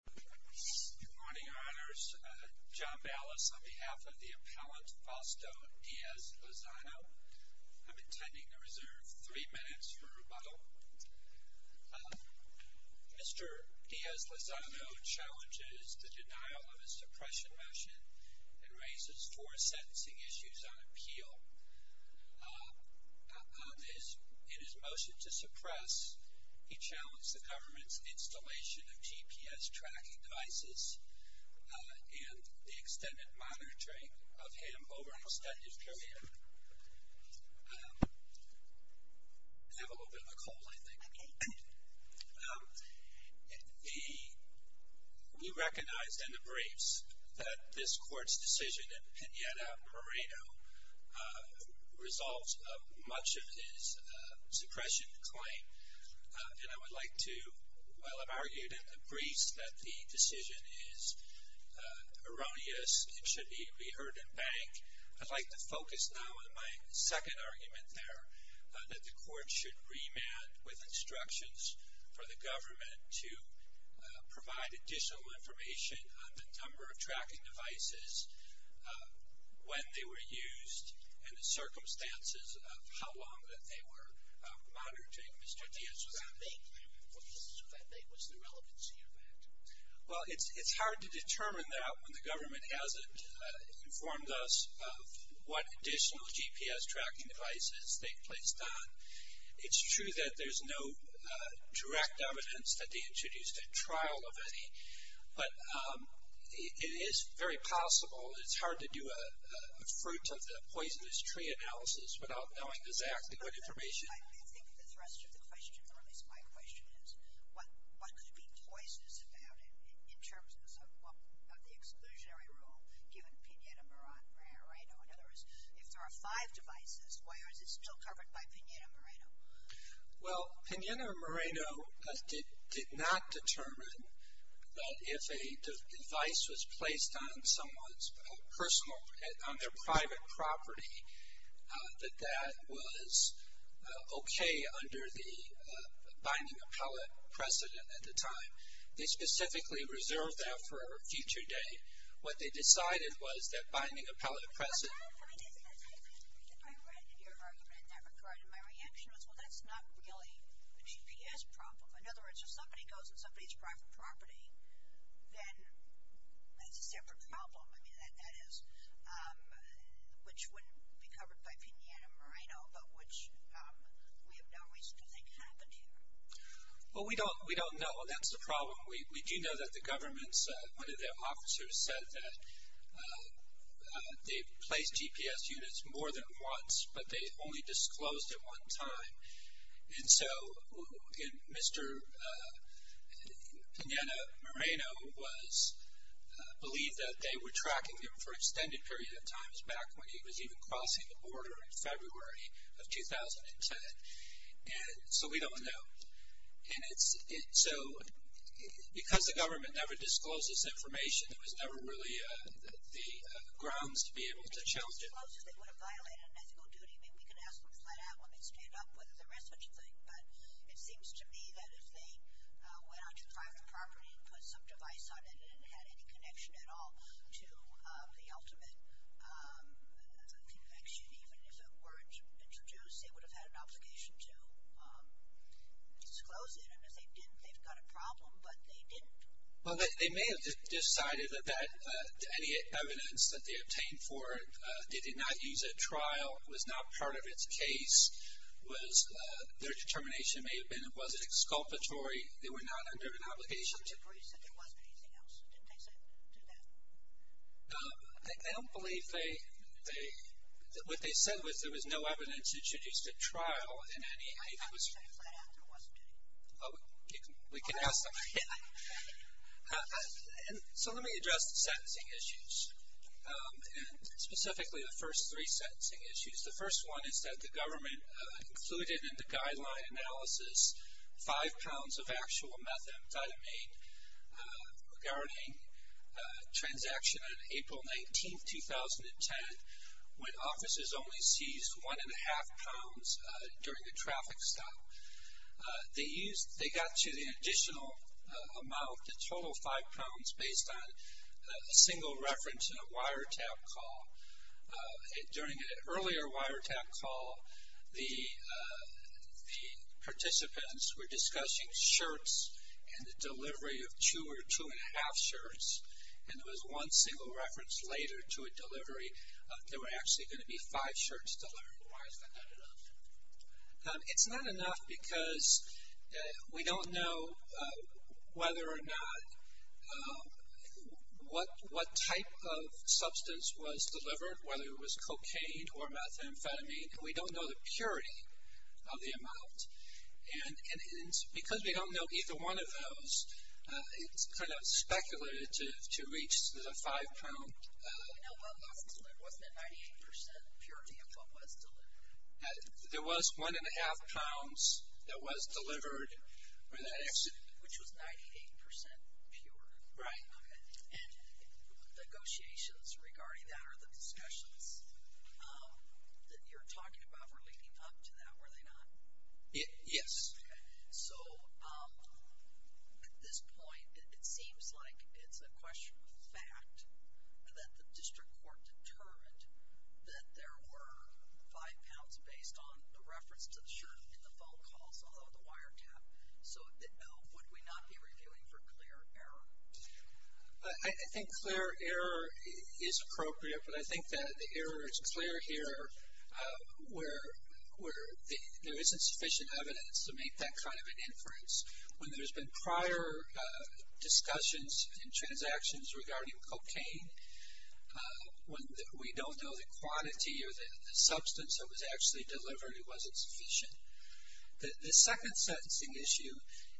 Good morning, Your Honors. John Ballas on behalf of the appellant Fausto Diaz-Lozano. I'm intending to reserve three minutes for rebuttal. Mr. Diaz-Lozano challenges the denial of a suppression motion and raises four sentencing issues on appeal. In his motion to suppress, he challenged the government's installation of GPS tracking devices and the extended monitoring of him over an extended period. I have a little bit of a cold, I think. We recognize in the briefs that this court's decision in Pineda-Moreno resolves much of his suppression claim. And I would like to, while I've argued in the briefs that the decision is erroneous and should be reheard and banked, I'd like to focus now on my second argument there, that the court should remand with instructions for the government to provide additional information on the number of tracking devices, when they were used, and the circumstances of how long that they were monitoring Mr. Diaz-Lozano. What's the relevancy of that? Well, it's hard to determine that when the government hasn't informed us of what additional GPS tracking devices they've placed on. It's true that there's no direct evidence that they introduced a trial of any, but it is very possible. It's hard to do a fruit of the poisonous tree analysis without knowing exactly what information. I think the thrust of the question, or at least my question is, what could be poisonous about it in terms of the exclusionary rule given Pineda-Moreno? In other words, if there are five devices, why is it still covered by Pineda-Moreno? Well, Pineda-Moreno did not determine that if a device was placed on someone's personal, on their private property, that that was okay under the binding appellate precedent at the time. They specifically reserved that for a future date. What they decided was that binding appellate precedent. I read your argument in that regard, and my reaction was, well, that's not really a GPS problem. In other words, if somebody goes on somebody's private property, then that's a separate problem. I mean, that is, which wouldn't be covered by Pineda-Moreno, but which we have no reason to think happened here. Well, we don't know. That's the problem. We do know that the government's, one of their officers said that they placed GPS units more than once, but they only disclosed it one time. And so, again, Mr. Pineda-Moreno was, believed that they were tracking him for an extended period of time, back when he was even crossing the border in February of 2010. And so, we don't know. And so, because the government never disclosed this information, it was never really the grounds to be able to challenge it. If they disclosed it, they would have violated an ethical duty. I mean, we can ask them to find out when they stand up whether there is such a thing, but it seems to me that if they went on to private property and put some device on it and it had any connection at all to the ultimate connection, even if it weren't introduced, they would have had an obligation to disclose it. And if they didn't, they've got a problem, but they didn't. Well, they may have decided that any evidence that they obtained for it, they did not use at trial, was not part of its case, was their determination may have been it wasn't exculpatory, they were not under an obligation to. They agreed that there wasn't anything else. Didn't they do that? I don't believe they. What they said was there was no evidence introduced at trial in any. I thought they said it flat out there wasn't any. We can ask them. So let me address the sentencing issues, and specifically the first three sentencing issues. The first one is that the government included in the guideline analysis five pounds of actual methamphetamine regarding a transaction on April 19, 2010, when officers only seized one and a half pounds during a traffic stop. They got you the additional amount, the total five pounds, based on a single reference in a wiretap call. During an earlier wiretap call, the participants were discussing shirts and the delivery of two or two and a half shirts, and there was one single reference later to a delivery. There were actually going to be five shirts delivered. Why is that not enough? It's not enough because we don't know whether or not what type of substance was delivered, whether it was cocaine or methamphetamine, and we don't know the purity of the amount. And because we don't know either one of those, it's kind of speculated to reach the five pound. Wasn't it 98% purity of what was delivered? It was one and a half pounds that was delivered in that accident. Which was 98% pure. Right. Okay. And negotiations regarding that or the discussions that you're talking about relating up to that, were they not? Yes. Okay. So at this point, it seems like it's a question of fact that the district court determined that there were five pounds based on the reference to the shirt in the phone calls, although the wiretap. So would we not be reviewing for clear error? I think clear error is appropriate, but I think that the error is clear here where there isn't sufficient evidence to make that kind of an inference. When there's been prior discussions and transactions regarding cocaine, when we don't know the quantity or the substance that was actually delivered, it wasn't sufficient. The second sentencing issue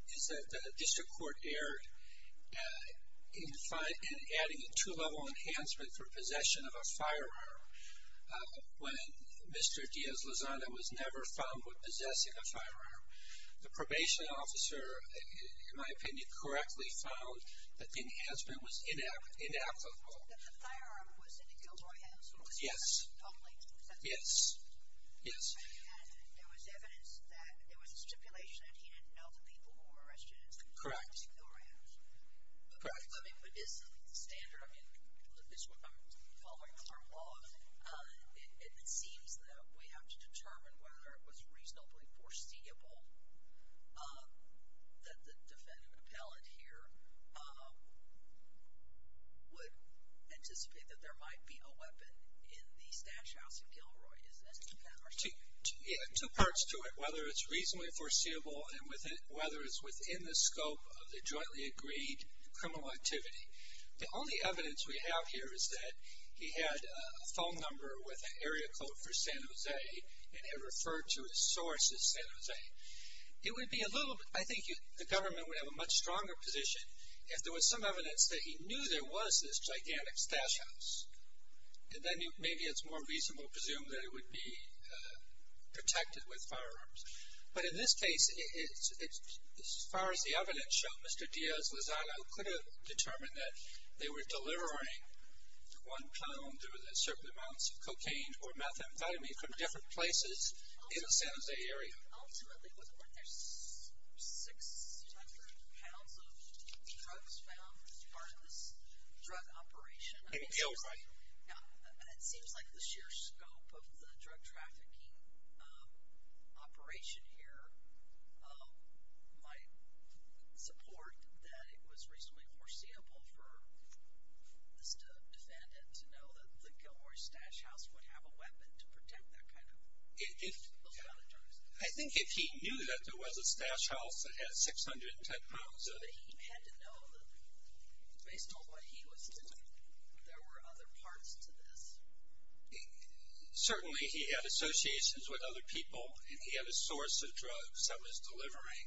is that the district court erred in adding a two-level enhancement for possession of a firearm. When Mr. Diaz-Lazada was never found with possessing a firearm, the probation officer, in my opinion, correctly found that the enhancement was inapplicable. That the firearm was in the Gilroy household? Yes. Yes. Yes. And there was evidence that there was a stipulation that he didn't know the people who were arrested, and so he had to ignore it. Correct. Correct. I mean, with this standard, I mean, following our law, it seems that we have to determine whether it was reasonably foreseeable that the defendant appellate here would anticipate that there might be a weapon in the stash house in Gilroy. Two parts to it, whether it's reasonably foreseeable and whether it's within the scope of the jointly agreed criminal activity. The only evidence we have here is that he had a phone number with an area code for San Jose, and it referred to his source as San Jose. It would be a little bit, I think the government would have a much stronger position if there was some evidence that he knew there was this gigantic stash house, and then maybe it's more reasonable to presume that it would be protected with firearms. But in this case, as far as the evidence showed, Mr. Diaz-Lozada could have determined that they were delivering one pound through certain amounts of cocaine or methamphetamine from different places in the San Jose area. Ultimately, it wasn't worth it. There's 600 pounds of drugs found as part of this drug operation. It seems like the sheer scope of the drug trafficking operation here might support that it was reasonably foreseeable for Mr. Defendant to know that the Gilroy stash house would have a weapon to protect that kind of stuff. I think if he knew that there was a stash house that had 610 pounds of it. He had to know, based on what he was doing, there were other parts to this. Certainly, he had associations with other people, and he had a source of drugs that was delivering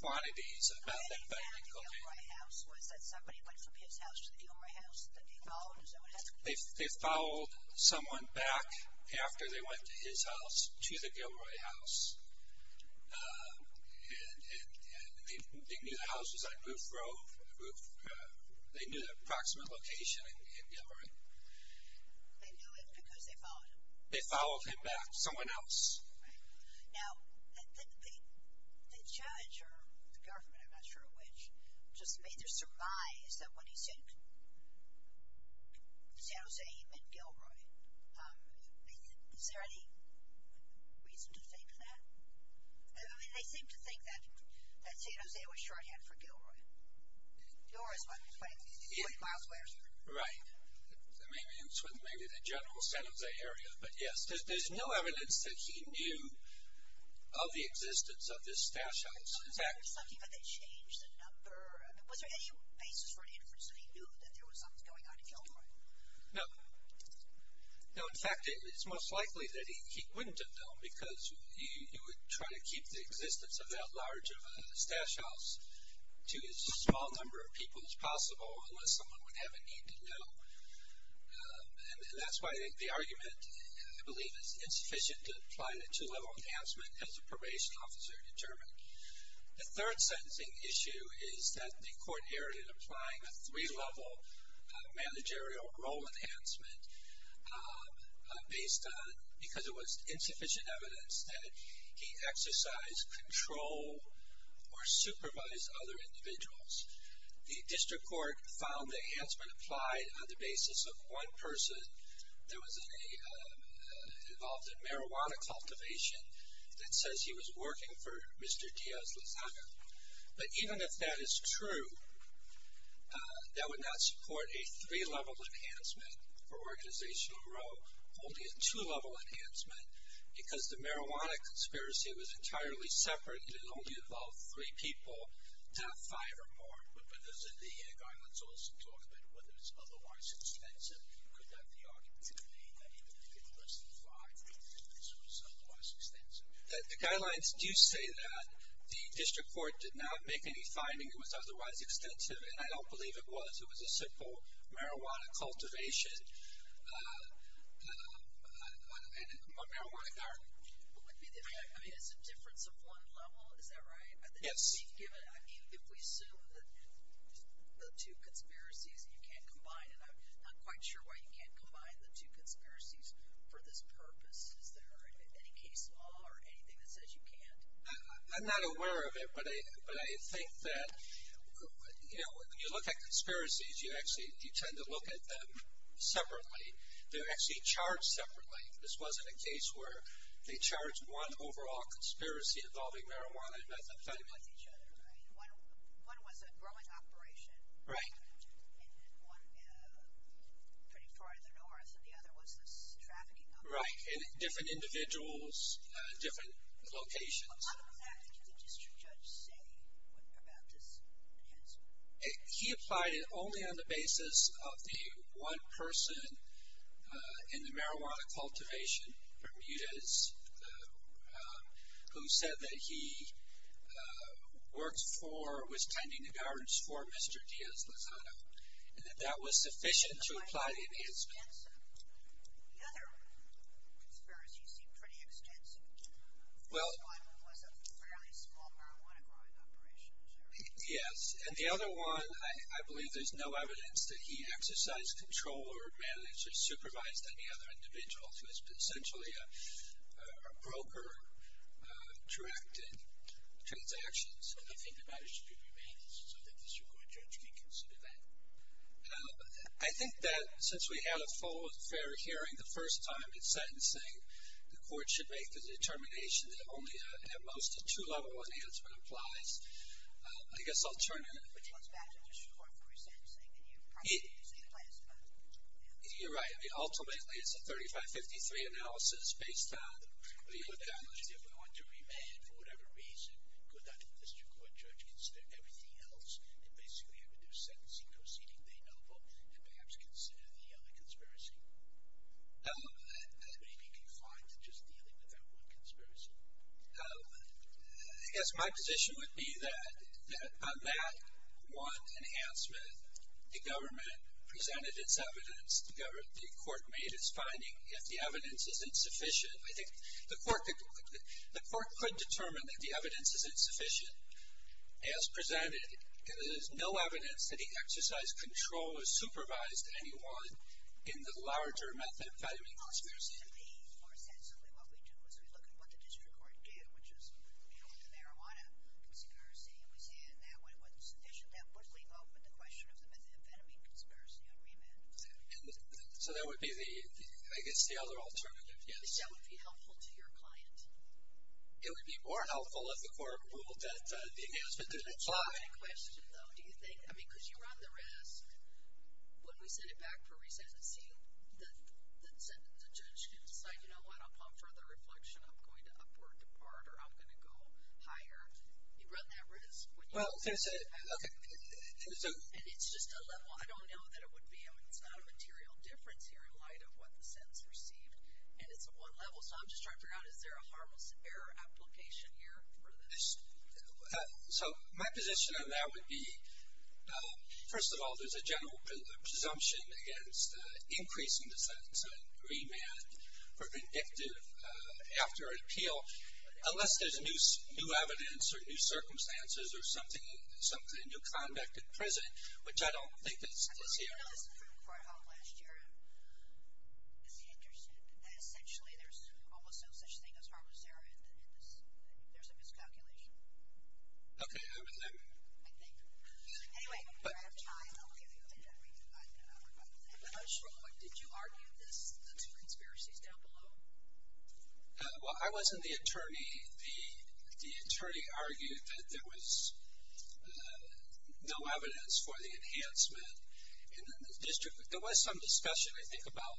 quantities about that kind of cocaine. The way they found the Gilroy house was that somebody went from his house to the Gilroy house, that they followed someone else. They followed someone back after they went to his house to the Gilroy house, and they knew the house was on Roof Grove. They knew the approximate location in Gilroy. They knew it because they followed him. They followed him back to someone else. Now, the judge or the government, I'm not sure which, just made their surmise that when he said San Jose, he meant Gilroy. Is there any reason to think that? I mean, they seem to think that San Jose was shorthand for Gilroy. Gilroy is what? 40 miles away or something? Right. Maybe the general San Jose area, but yes. There's no evidence that he knew of the existence of this stash house. Was there any basis for an inference that he knew that there was something going on in Gilroy? No. No, in fact, it's most likely that he wouldn't have known because you would try to keep the existence of that large of a stash house to as small number of people as possible unless someone would have a need to know. And that's why the argument, I believe, is sufficient to apply the two-level enhancement as a probation officer determined. The third sentencing issue is that the court erred in applying a three-level managerial role enhancement based on, because it was insufficient evidence that he exercised control or supervised other individuals. The district court found the enhancement applied on the basis of one person that was involved in marijuana cultivation that says he was working for Mr. Diaz-Lazada. But even if that is true, that would not support a three-level enhancement for organizational role, only a two-level enhancement because the marijuana conspiracy was entirely separate. It had only involved three people, not five or more. But as the guidelines also talk about, whether it's otherwise extensive, you could have the opportunity that even if it was less than five, this was otherwise extensive. The guidelines do say that. The district court did not make any finding it was otherwise extensive, and I don't believe it was. It was a simple marijuana cultivation on a marijuana garden. I mean, it's a difference of one level. Is that right? Yes. If we assume that the two conspiracies, you can't combine, and I'm not quite sure why you can't combine the two conspiracies for this purpose. Is there any case law or anything that says you can't? I'm not aware of it, but I think that, you know, when you look at conspiracies, you actually tend to look at them separately. They're actually charged separately. This wasn't a case where they charged one overall conspiracy involving marijuana. One was a growing operation. Right. And one pretty far in the north, and the other was this trafficking operation. Right. And different individuals, different locations. Other than that, what did the district judge say about this enhancement? He applied it only on the basis of the one person in the marijuana cultivation, Bermudez, who said that he worked for, was tending the gardens for Mr. Diaz Lozada, and that that was sufficient to apply the enhancement. The other conspiracy seemed pretty extensive. Well. One was a fairly small marijuana growing operation. Yes. And the other one, I believe there's no evidence that he exercised control or managed or supervised any other individuals. It was essentially a broker-directed transaction. I think the matter should be remanded so that the district court judge can consider that. I think that since we had a full and fair hearing the first time in sentencing, the court should make the determination that only at most a two-level enhancement applies. I guess I'll turn it. You're right. I mean, ultimately, it's a 35-53 analysis based on the accountability. If we want to remand for whatever reason, could that district court judge consider everything else and basically have a new sentencing proceeding they know of and perhaps consider the other conspiracy? Maybe confined to just dealing with that one conspiracy. I guess my position would be that on that one enhancement, the government presented its evidence. The court made its finding. If the evidence isn't sufficient, I think the court could determine that the evidence isn't sufficient as presented. There's no evidence that he exercised control or supervised anyone in the larger methadone conspiracy. More sensibly, what we do is we look at what the district court did, which is deal with the marijuana conspiracy, and we say in that one it wasn't sufficient. That would leave open the question of the methamphetamine conspiracy on remand. So that would be, I guess, the other alternative. Yes. That would be helpful to your client. It would be more helpful if the court ruled that the enhancement didn't apply. That's a great question, though, do you think? I mean, because you run the risk. When we send it back for resensing, the judge can decide, you know what, upon further reflection, I'm going to up or depart or I'm going to go higher. You run that risk when you send it back. Well, can I say it? Okay. And it's just a level. I don't know that it would be. I mean, it's not a material difference here in light of what the sentence received. And it's a one level, so I'm just trying to figure out, is there a harmless error application here for this? So my position on that would be, first of all, there's a general presumption against increasing the sentencing remand for vindictive after an appeal, unless there's new evidence or new circumstances or something, new conduct at present, which I don't think is here. I didn't know this from last year. Essentially, there's almost no such thing as harmless error in this. There's a miscalculation. Okay. I think. Anyway, if you have time, I'll give you the data. I'm not sure. Did you argue this, the two conspiracies down below? Well, I wasn't the attorney. The attorney argued that there was no evidence for the enhancement. There was some discussion, I think, about.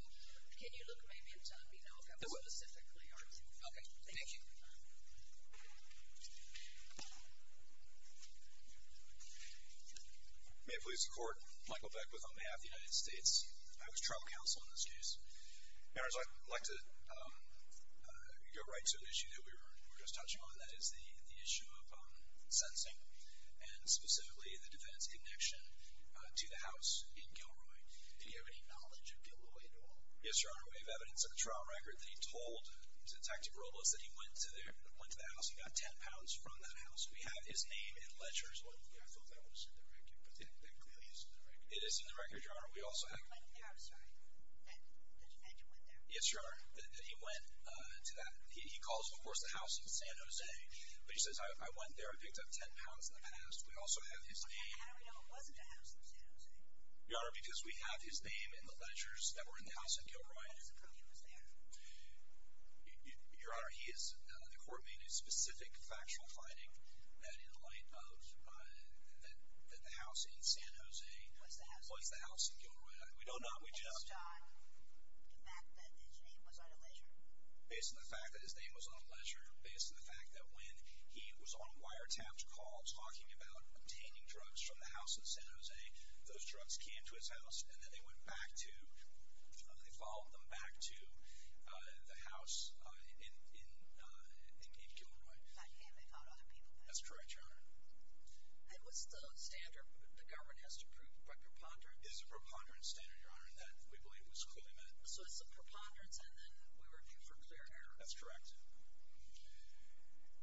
Can you look maybe in time, you know, if that was specifically argued? Okay. Thank you. May it please the Court. Michael Beckwith on behalf of the United States. I was trial counsel in this case. Your Honor, I'd like to go right to an issue that we were just touching on. That is the issue of sentencing, and specifically the defendant's connection to the house in Gilroy. Do you have any knowledge of Gilroy at all? Yes, Your Honor. We have evidence of a trial record that he told Detective Robles that he went to the house and got 10 pounds from that house. We have his name in ledgers. I thought that was in the record, but that clearly isn't in the record. It is in the record, Your Honor. I went there. I'm sorry. That you went there. Yes, Your Honor, that he went to that. He calls, of course, the house in San Jose, but he says, I went there, I picked up 10 pounds in the past. We also have his name. How do we know it wasn't the house in San Jose? Your Honor, because we have his name in the ledgers that were in the house in Gilroy. How do we know he was there? Your Honor, the court made a specific factual finding that in light of the house in San Jose was the house in Gilroy. We don't know. Based on the fact that his name was on a ledger? Based on the fact that his name was on a ledger, based on the fact that when he was on a wiretapped call talking about obtaining drugs from the house in San Jose, those drugs came to his house, and then they followed them back to the house in Gilroy. Not him. They followed other people back. That's correct, Your Honor. And what's the standard the government has to prove? A preponderance? It's a preponderance standard, Your Honor, and that we believe was clearly met. So it's a preponderance, and then we were due for clear error. That's correct.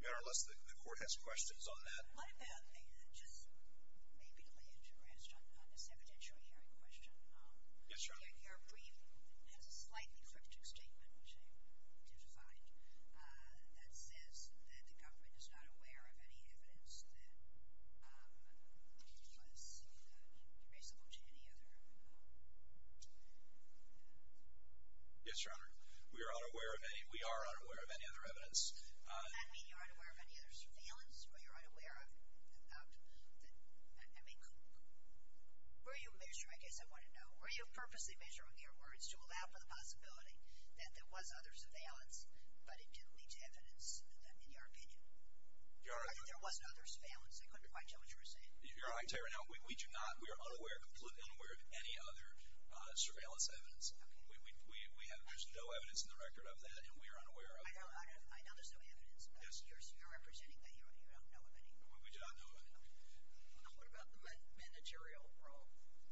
Your Honor, unless the court has questions on that. One other thing that just may be related to Ransom on this evidentiary hearing question. Yes, Your Honor. Your brief has a slightly cryptic statement, which I did find, that says that the government is not aware of any evidence that was reasonable to any other. Yes, Your Honor. We are unaware of any other evidence. Does that mean you're unaware of any other surveillance or you're unaware of, I mean, were you measuring, I guess I want to know, were you purposely measuring your words to allow for the possibility that there was other surveillance, but it didn't lead to evidence in your opinion? Your Honor. Or that there wasn't other surveillance. I couldn't quite tell what you were saying. Your Honor, I can tell you right now, we do not, we are unaware, completely unaware of any other surveillance evidence. We have, there's no evidence in the record of that, and we are unaware of that. I know there's no evidence, but you're representing that you don't know of any. We do not know of any. What about the managerial role?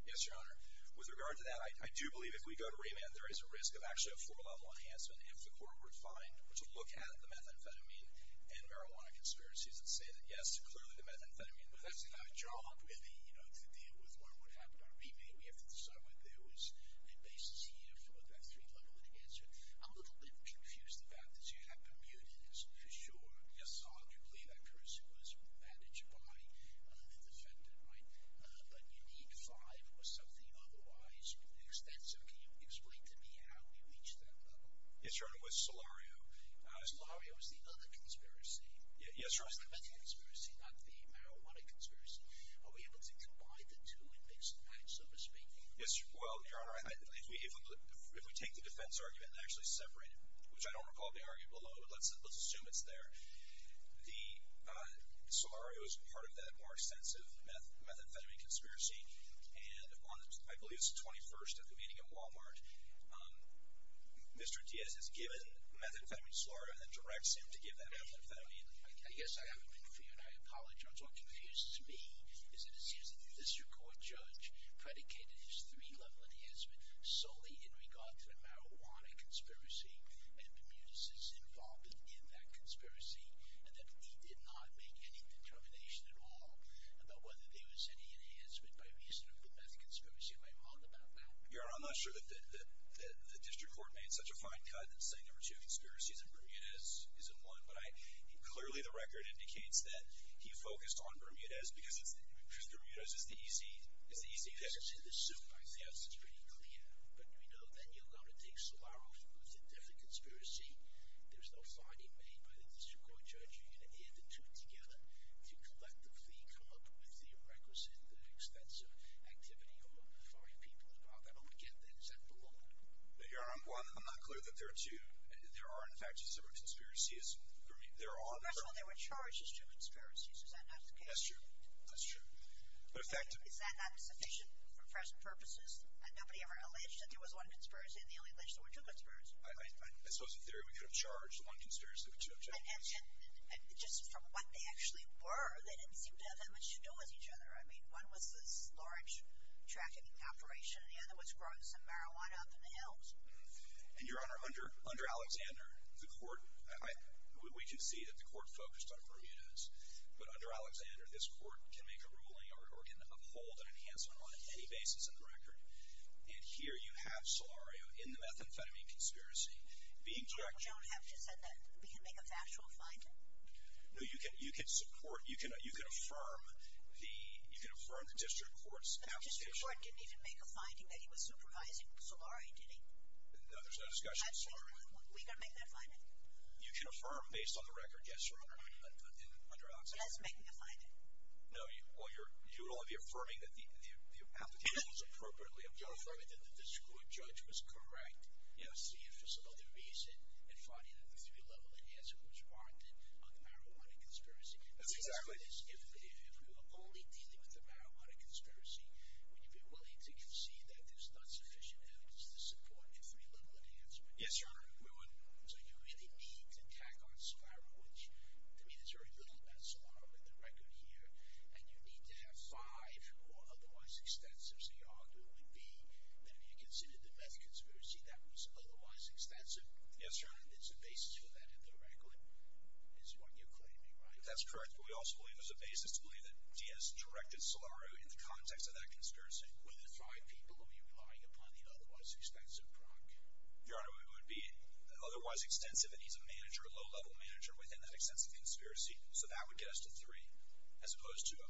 Yes, Your Honor. With regard to that, I do believe if we go to remand, there is a risk of actually a four-level enhancement if the court were to find, were to look at the methamphetamine and marijuana conspiracies and say that, yes, clearly the methamphetamine, but that's not a job, really, you know, to deal with what would happen on remand. We have to decide whether there was a basis here for that three-level enhancement. I'm a little bit confused about this. You have Bermuda for sure. Yes, Your Honor. You believe that person was managed by the defendant, right? But you need five or something otherwise extensive. Can you explain to me how we reach that level? Yes, Your Honor, with Solario. Solario is the other conspiracy. Yes, Your Honor. It's the meth conspiracy, not the marijuana conspiracy. Are we able to combine the two and mix and match, so to speak? Yes, well, Your Honor, if we take the defense argument, and actually separate it, which I don't recall the argument below, but let's assume it's there, Solario is part of that more extensive methamphetamine conspiracy, and I believe it's the 21st at the meeting at Walmart. Mr. Diaz has given methamphetamine to Solario and then directs him to give that methamphetamine. I guess I haven't been clear, and I apologize. What confuses me is that it seems that this court judge predicated his three-level enhancement solely in regard to the marijuana conspiracy and Bermudez's involvement in that conspiracy, and that he did not make any determination at all about whether there was any enhancement by reason of the meth conspiracy. Am I wrong about that? Your Honor, I'm not sure that the district court made such a fine cut in saying there were two conspiracies and Bermudez is in one, but clearly the record indicates that he focused on Bermudez because Bermudez is the easy case. As to the suit, I think it's pretty clear. But, you know, then you're going to take Solario who's in a different conspiracy. There's no finding made by the district court judge. You're going to add the two together to collectively come up with the requisite, the extensive activity on the five people involved. I don't get that. Does that belong? Your Honor, I'm not clear that there are two. There are, in fact, two separate conspiracies. First of all, there were charges, two conspiracies. Is that not the case? That's true. That's true. Is that not sufficient for press purposes? Had nobody ever alleged that there was one conspiracy and the only alleged there were two conspiracies? I suppose in theory we could have charged one conspiracy with two conspiracies. And just from what they actually were, they didn't seem to have that much to do with each other. I mean, one was this large trafficking operation and the other was growing some marijuana up in the hills. And, Your Honor, under Alexander, the court, we can see that the court focused on Bermudez, but under Alexander, this court can make a ruling or can uphold an enhancement on any basis in the record. And here you have Solario in the methamphetamine conspiracy. You don't have to say that. We can make a factual finding? No, you can support, you can affirm the district court's accusation. But the district court didn't even make a finding that he was supervising Solario, did he? No, there's no discussion of Solario. We can make that finding? You can affirm based on the record, yes, Your Honor. You guys are making a finding? No, you're only affirming that the application was appropriately approved. You're affirming that the district court judge was correct in seeing for some other reason and finding that the three-level enhancement was warranted on the marijuana conspiracy. That's exactly... If we were only dealing with the marijuana conspiracy, would you be willing to concede that there's not sufficient evidence to support a three-level enhancement? Yes, Your Honor, we would. So you really need to tack on Solario, which, to me, there's very little about Solario in the record here, and you need to have five who are otherwise extensive. So your argument would be that if you considered the meth conspiracy, that was otherwise extensive? Yes, Your Honor. And there's a basis for that in the record, is what you're claiming, right? That's correct, but we also believe there's a basis to believe that Diaz directed Solario in the context of that conspiracy. Were there five people who were relying upon the otherwise extensive product? Your Honor, it would be otherwise extensive, and he's a manager, a low-level manager, within that extensive conspiracy, so that would get us to three, as opposed to... A,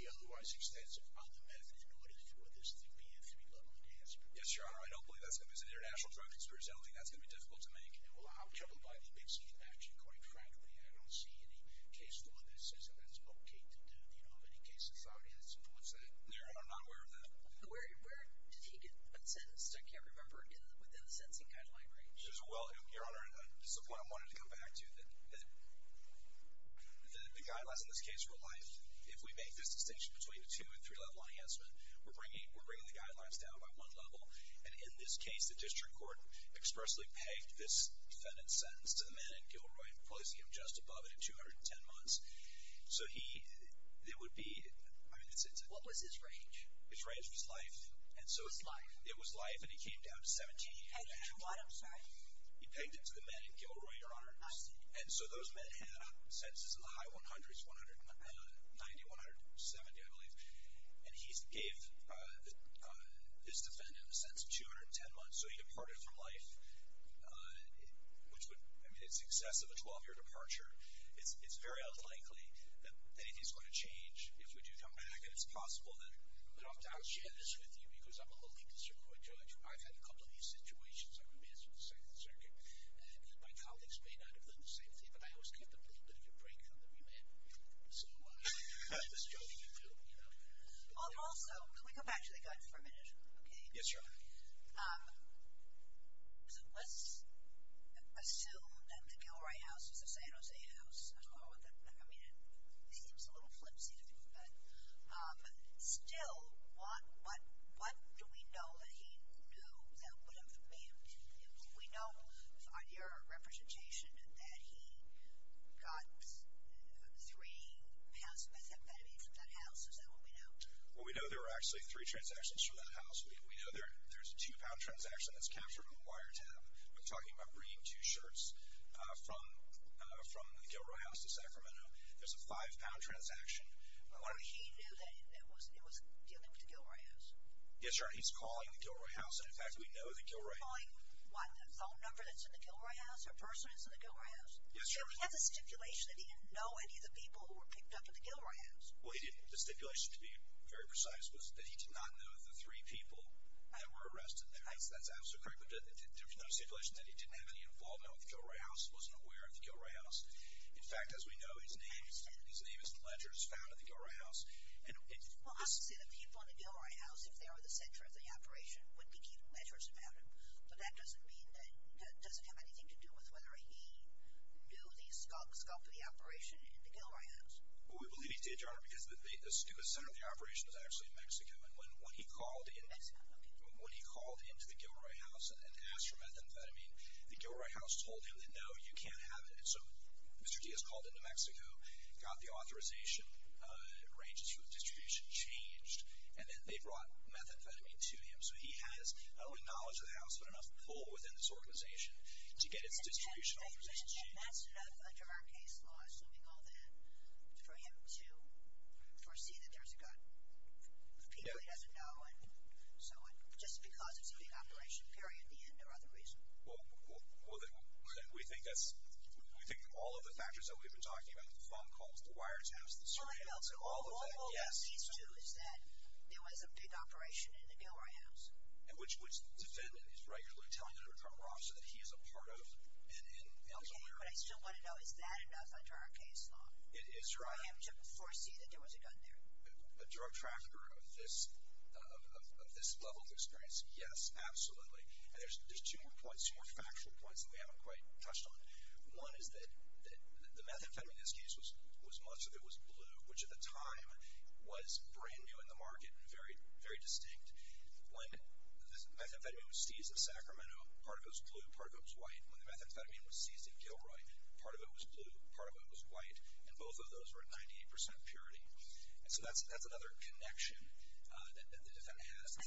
the otherwise extensive other meth, in order for this to be a three-level enhancement. Yes, Your Honor, I don't believe that's going to be... It's an international drug conspiracy. I don't think that's going to be difficult to make. Well, I'm troubled by the big scheme, actually, quite frankly, and I don't see any case law that says that that's okay to do. Do you know of any case society that supports that? No, Your Honor, I'm not aware of that. Where did he get sentenced? I can't remember, within the sentencing guideline range. Well, Your Honor, this is the point I wanted to come back to, that the guidelines in this case were life. If we make this distinction between a two- and three-level enhancement, we're bringing the guidelines down by one level, and in this case, the district court expressly pegged this defendant's sentence to the man in Gilroy, placing him just above it at 210 months. So he... It would be... What was his range? His range was life, and so... It was life? It was life, and he came down to 17. And he pegged it to what, I'm sorry? He pegged it to the man in Gilroy, Your Honor. I see. And so those men had sentences in the high 100s, 190, 170, I believe, and he gave this defendant a sentence of 210 months, so he departed from life, which would... I mean, it's excessive, a 12-year departure. It's very unlikely that anything's going to change if we do come back, and it's possible that... I'm sharing this with you because I'm a little concerned with it, Judge. I've had a couple of these situations. I'm a man from the Second Circuit. My colleagues may not have done the same thing, but I always get the little bit of a break from the remand period. So I'm just joking, you know. Also, can we go back to the guns for a minute? Yes, Your Honor. So let's assume that the Gilroy house was a San Jose house. I mean, it seems a little flimsy to me, but still, what do we know that he knew that would have been... We know on your representation that he got three pounds of methamphetamine from that house. Is that what we know? Well, we know there were actually three transactions from that house. We know there's a two-pound transaction that's captured on a wiretap. We're talking about bringing two shirts from the Gilroy house to Sacramento. There's a five-pound transaction. But what if he knew that it was dealing with the Gilroy house? Yes, Your Honor. He's calling the Gilroy house. And, in fact, we know the Gilroy... He's calling, what, the phone number that's in the Gilroy house, the person that's in the Gilroy house? Yes, Your Honor. So we have the stipulation that he didn't know any of the people who were picked up at the Gilroy house. Well, he didn't. The stipulation, to be very precise, was that he did not know the three people that were arrested there. That's absolutely correct. But there's another stipulation that he didn't have any involvement with the Gilroy house, wasn't aware of the Gilroy house. In fact, as we know, his name is in ledgers found at the Gilroy house. Well, obviously, the people in the Gilroy house, if they were the center of the operation, would be keeping ledgers about him. But that doesn't mean that it doesn't have anything to do with whether he knew the scope of the operation in the Gilroy house. Well, we believe he did, Your Honor, because the center of the operation is actually in Mexico. And when he called into the Gilroy house and asked for methamphetamine, the Gilroy house told him that, no, you can't have it. So Mr. Diaz called into Mexico, got the authorization, arranged his food distribution, changed, and then they brought methamphetamine to him. So he has not only knowledge of the house, but enough pull within this organization to get its distribution authorization changed. But that's enough under our case law, assuming all that, for him to foresee that there's a gun. People he doesn't know, and so just because it's a big operation, period, the end or other reason. Well, we think that's, we think all of the factors that we've been talking about, the phone calls, the wire taps, the surveillance, all of that, yes. So all of these two is that there was a big operation in the Gilroy house? Which the defendant is regularly telling the undercover officer that he is a part of and is aware of. Okay, but I still want to know, is that enough under our case law? It is, Your Honor. For him to foresee that there was a gun there? A drug trafficker of this level of experience, yes, absolutely. And there's two more points, two more factual points that we haven't quite touched on. One is that the methamphetamine in this case was, much of it was blue, which at the time was brand new in the market and very distinct. When the methamphetamine was seized in Sacramento, part of it was blue, part of it was white. When the methamphetamine was seized in Gilroy, part of it was blue, part of it was white. And both of those were at 98% purity. And so that's another connection that the defendant has. So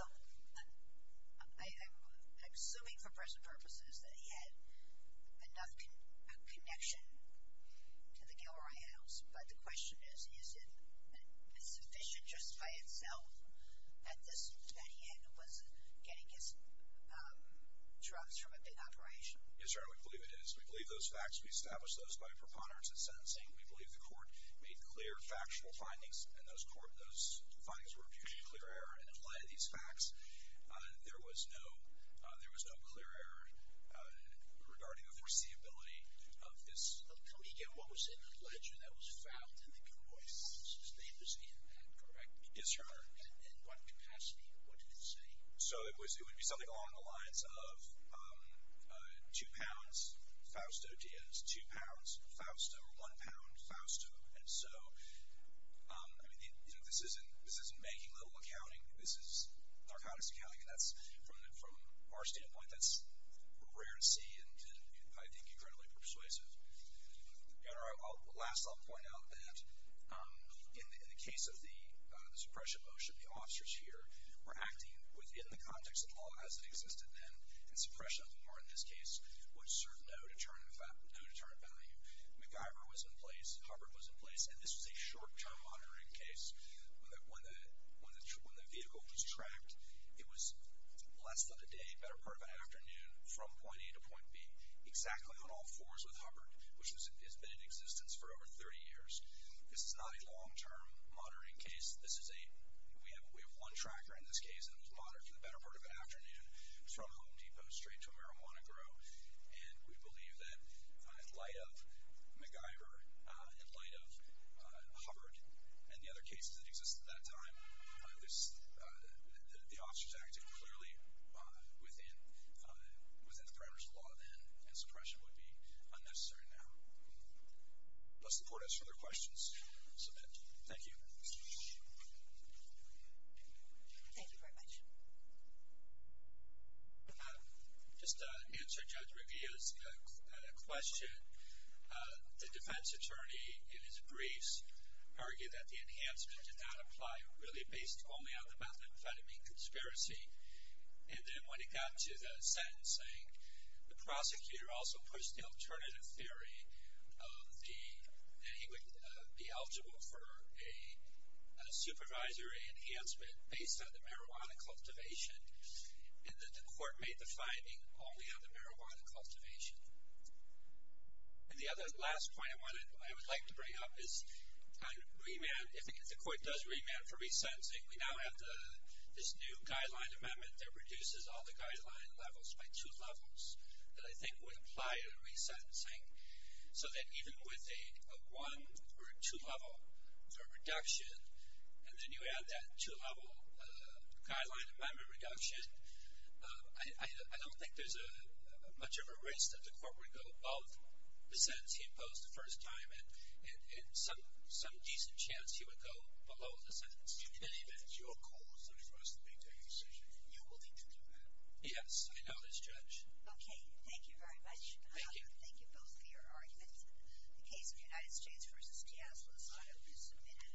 I'm assuming for present purposes that he had enough connection to the Gilroy house, but the question is, is it sufficient just by itself that he was getting his drugs from a big operation? Yes, Your Honor, we believe it is. We believe those facts, we established those by preponderance in sentencing. We believe the court made clear, factual findings, and those findings were of huge and clear error. And in light of these facts, there was no clear error regarding the foreseeability of this. Tell me again, what was in the ledger that was found in the Gilroy house? His name was in that, correct? Yes, Your Honor. And what capacity, what did it say? So it would be something along the lines of two pounds Fausto Diaz, two pounds Fausto, one pound Fausto. And so, I mean, you know, this isn't banking-level accounting. This is narcotics accounting, and that's, from our standpoint, that's rare to see, and I think incredibly persuasive. Your Honor, last I'll point out that in the case of the suppression motion, the officers here were acting within the context of the law as it existed then, and suppression of the law in this case would serve no deterrent value. MacGyver was in place. Hubbard was in place. And this was a short-term monitoring case. When the vehicle was tracked, it was less than a day, better part of an afternoon, from point A to point B, exactly on all fours with Hubbard, which has been in existence for over 30 years. This is not a long-term monitoring case. This is a, we have one tracker in this case that was monitored for the better part of an afternoon. It was from Home Depot straight to a marijuana grow. And we believe that in light of MacGyver, in light of Hubbard, and the other cases that exist at that time, the officers acted clearly within the parameters of the law then, and suppression would be unnecessary now. Does the Court have further questions? Submit. Thank you. Thank you very much. Just to answer Judge Riviera's question, the defense attorney in his briefs argued that the enhancement did not apply, really based only on the methamphetamine conspiracy. And then when it got to the sentencing, the prosecutor also pushed the alternative theory that he would be eligible for a supervisor enhancement based on the marijuana cultivation, and that the Court made the finding only on the marijuana cultivation. And the other last point I would like to bring up is on remand. If the Court does remand for resentencing, we now have this new guideline amendment that reduces all the guideline levels by two levels, that I think would apply to resentencing. So that even with a one or a two-level reduction, and then you add that two-level guideline amendment reduction, I don't think there's much of a risk that the Court would go above the sentence he imposed the first time, and some decent chance he would go below the sentence. In any event, your call is not for us to make that decision. You will need to do that. Yes, I know this, Judge. Okay, thank you very much. Thank you. Thank you both for your arguments. The case of United States v. Caslas, I hope you submit it.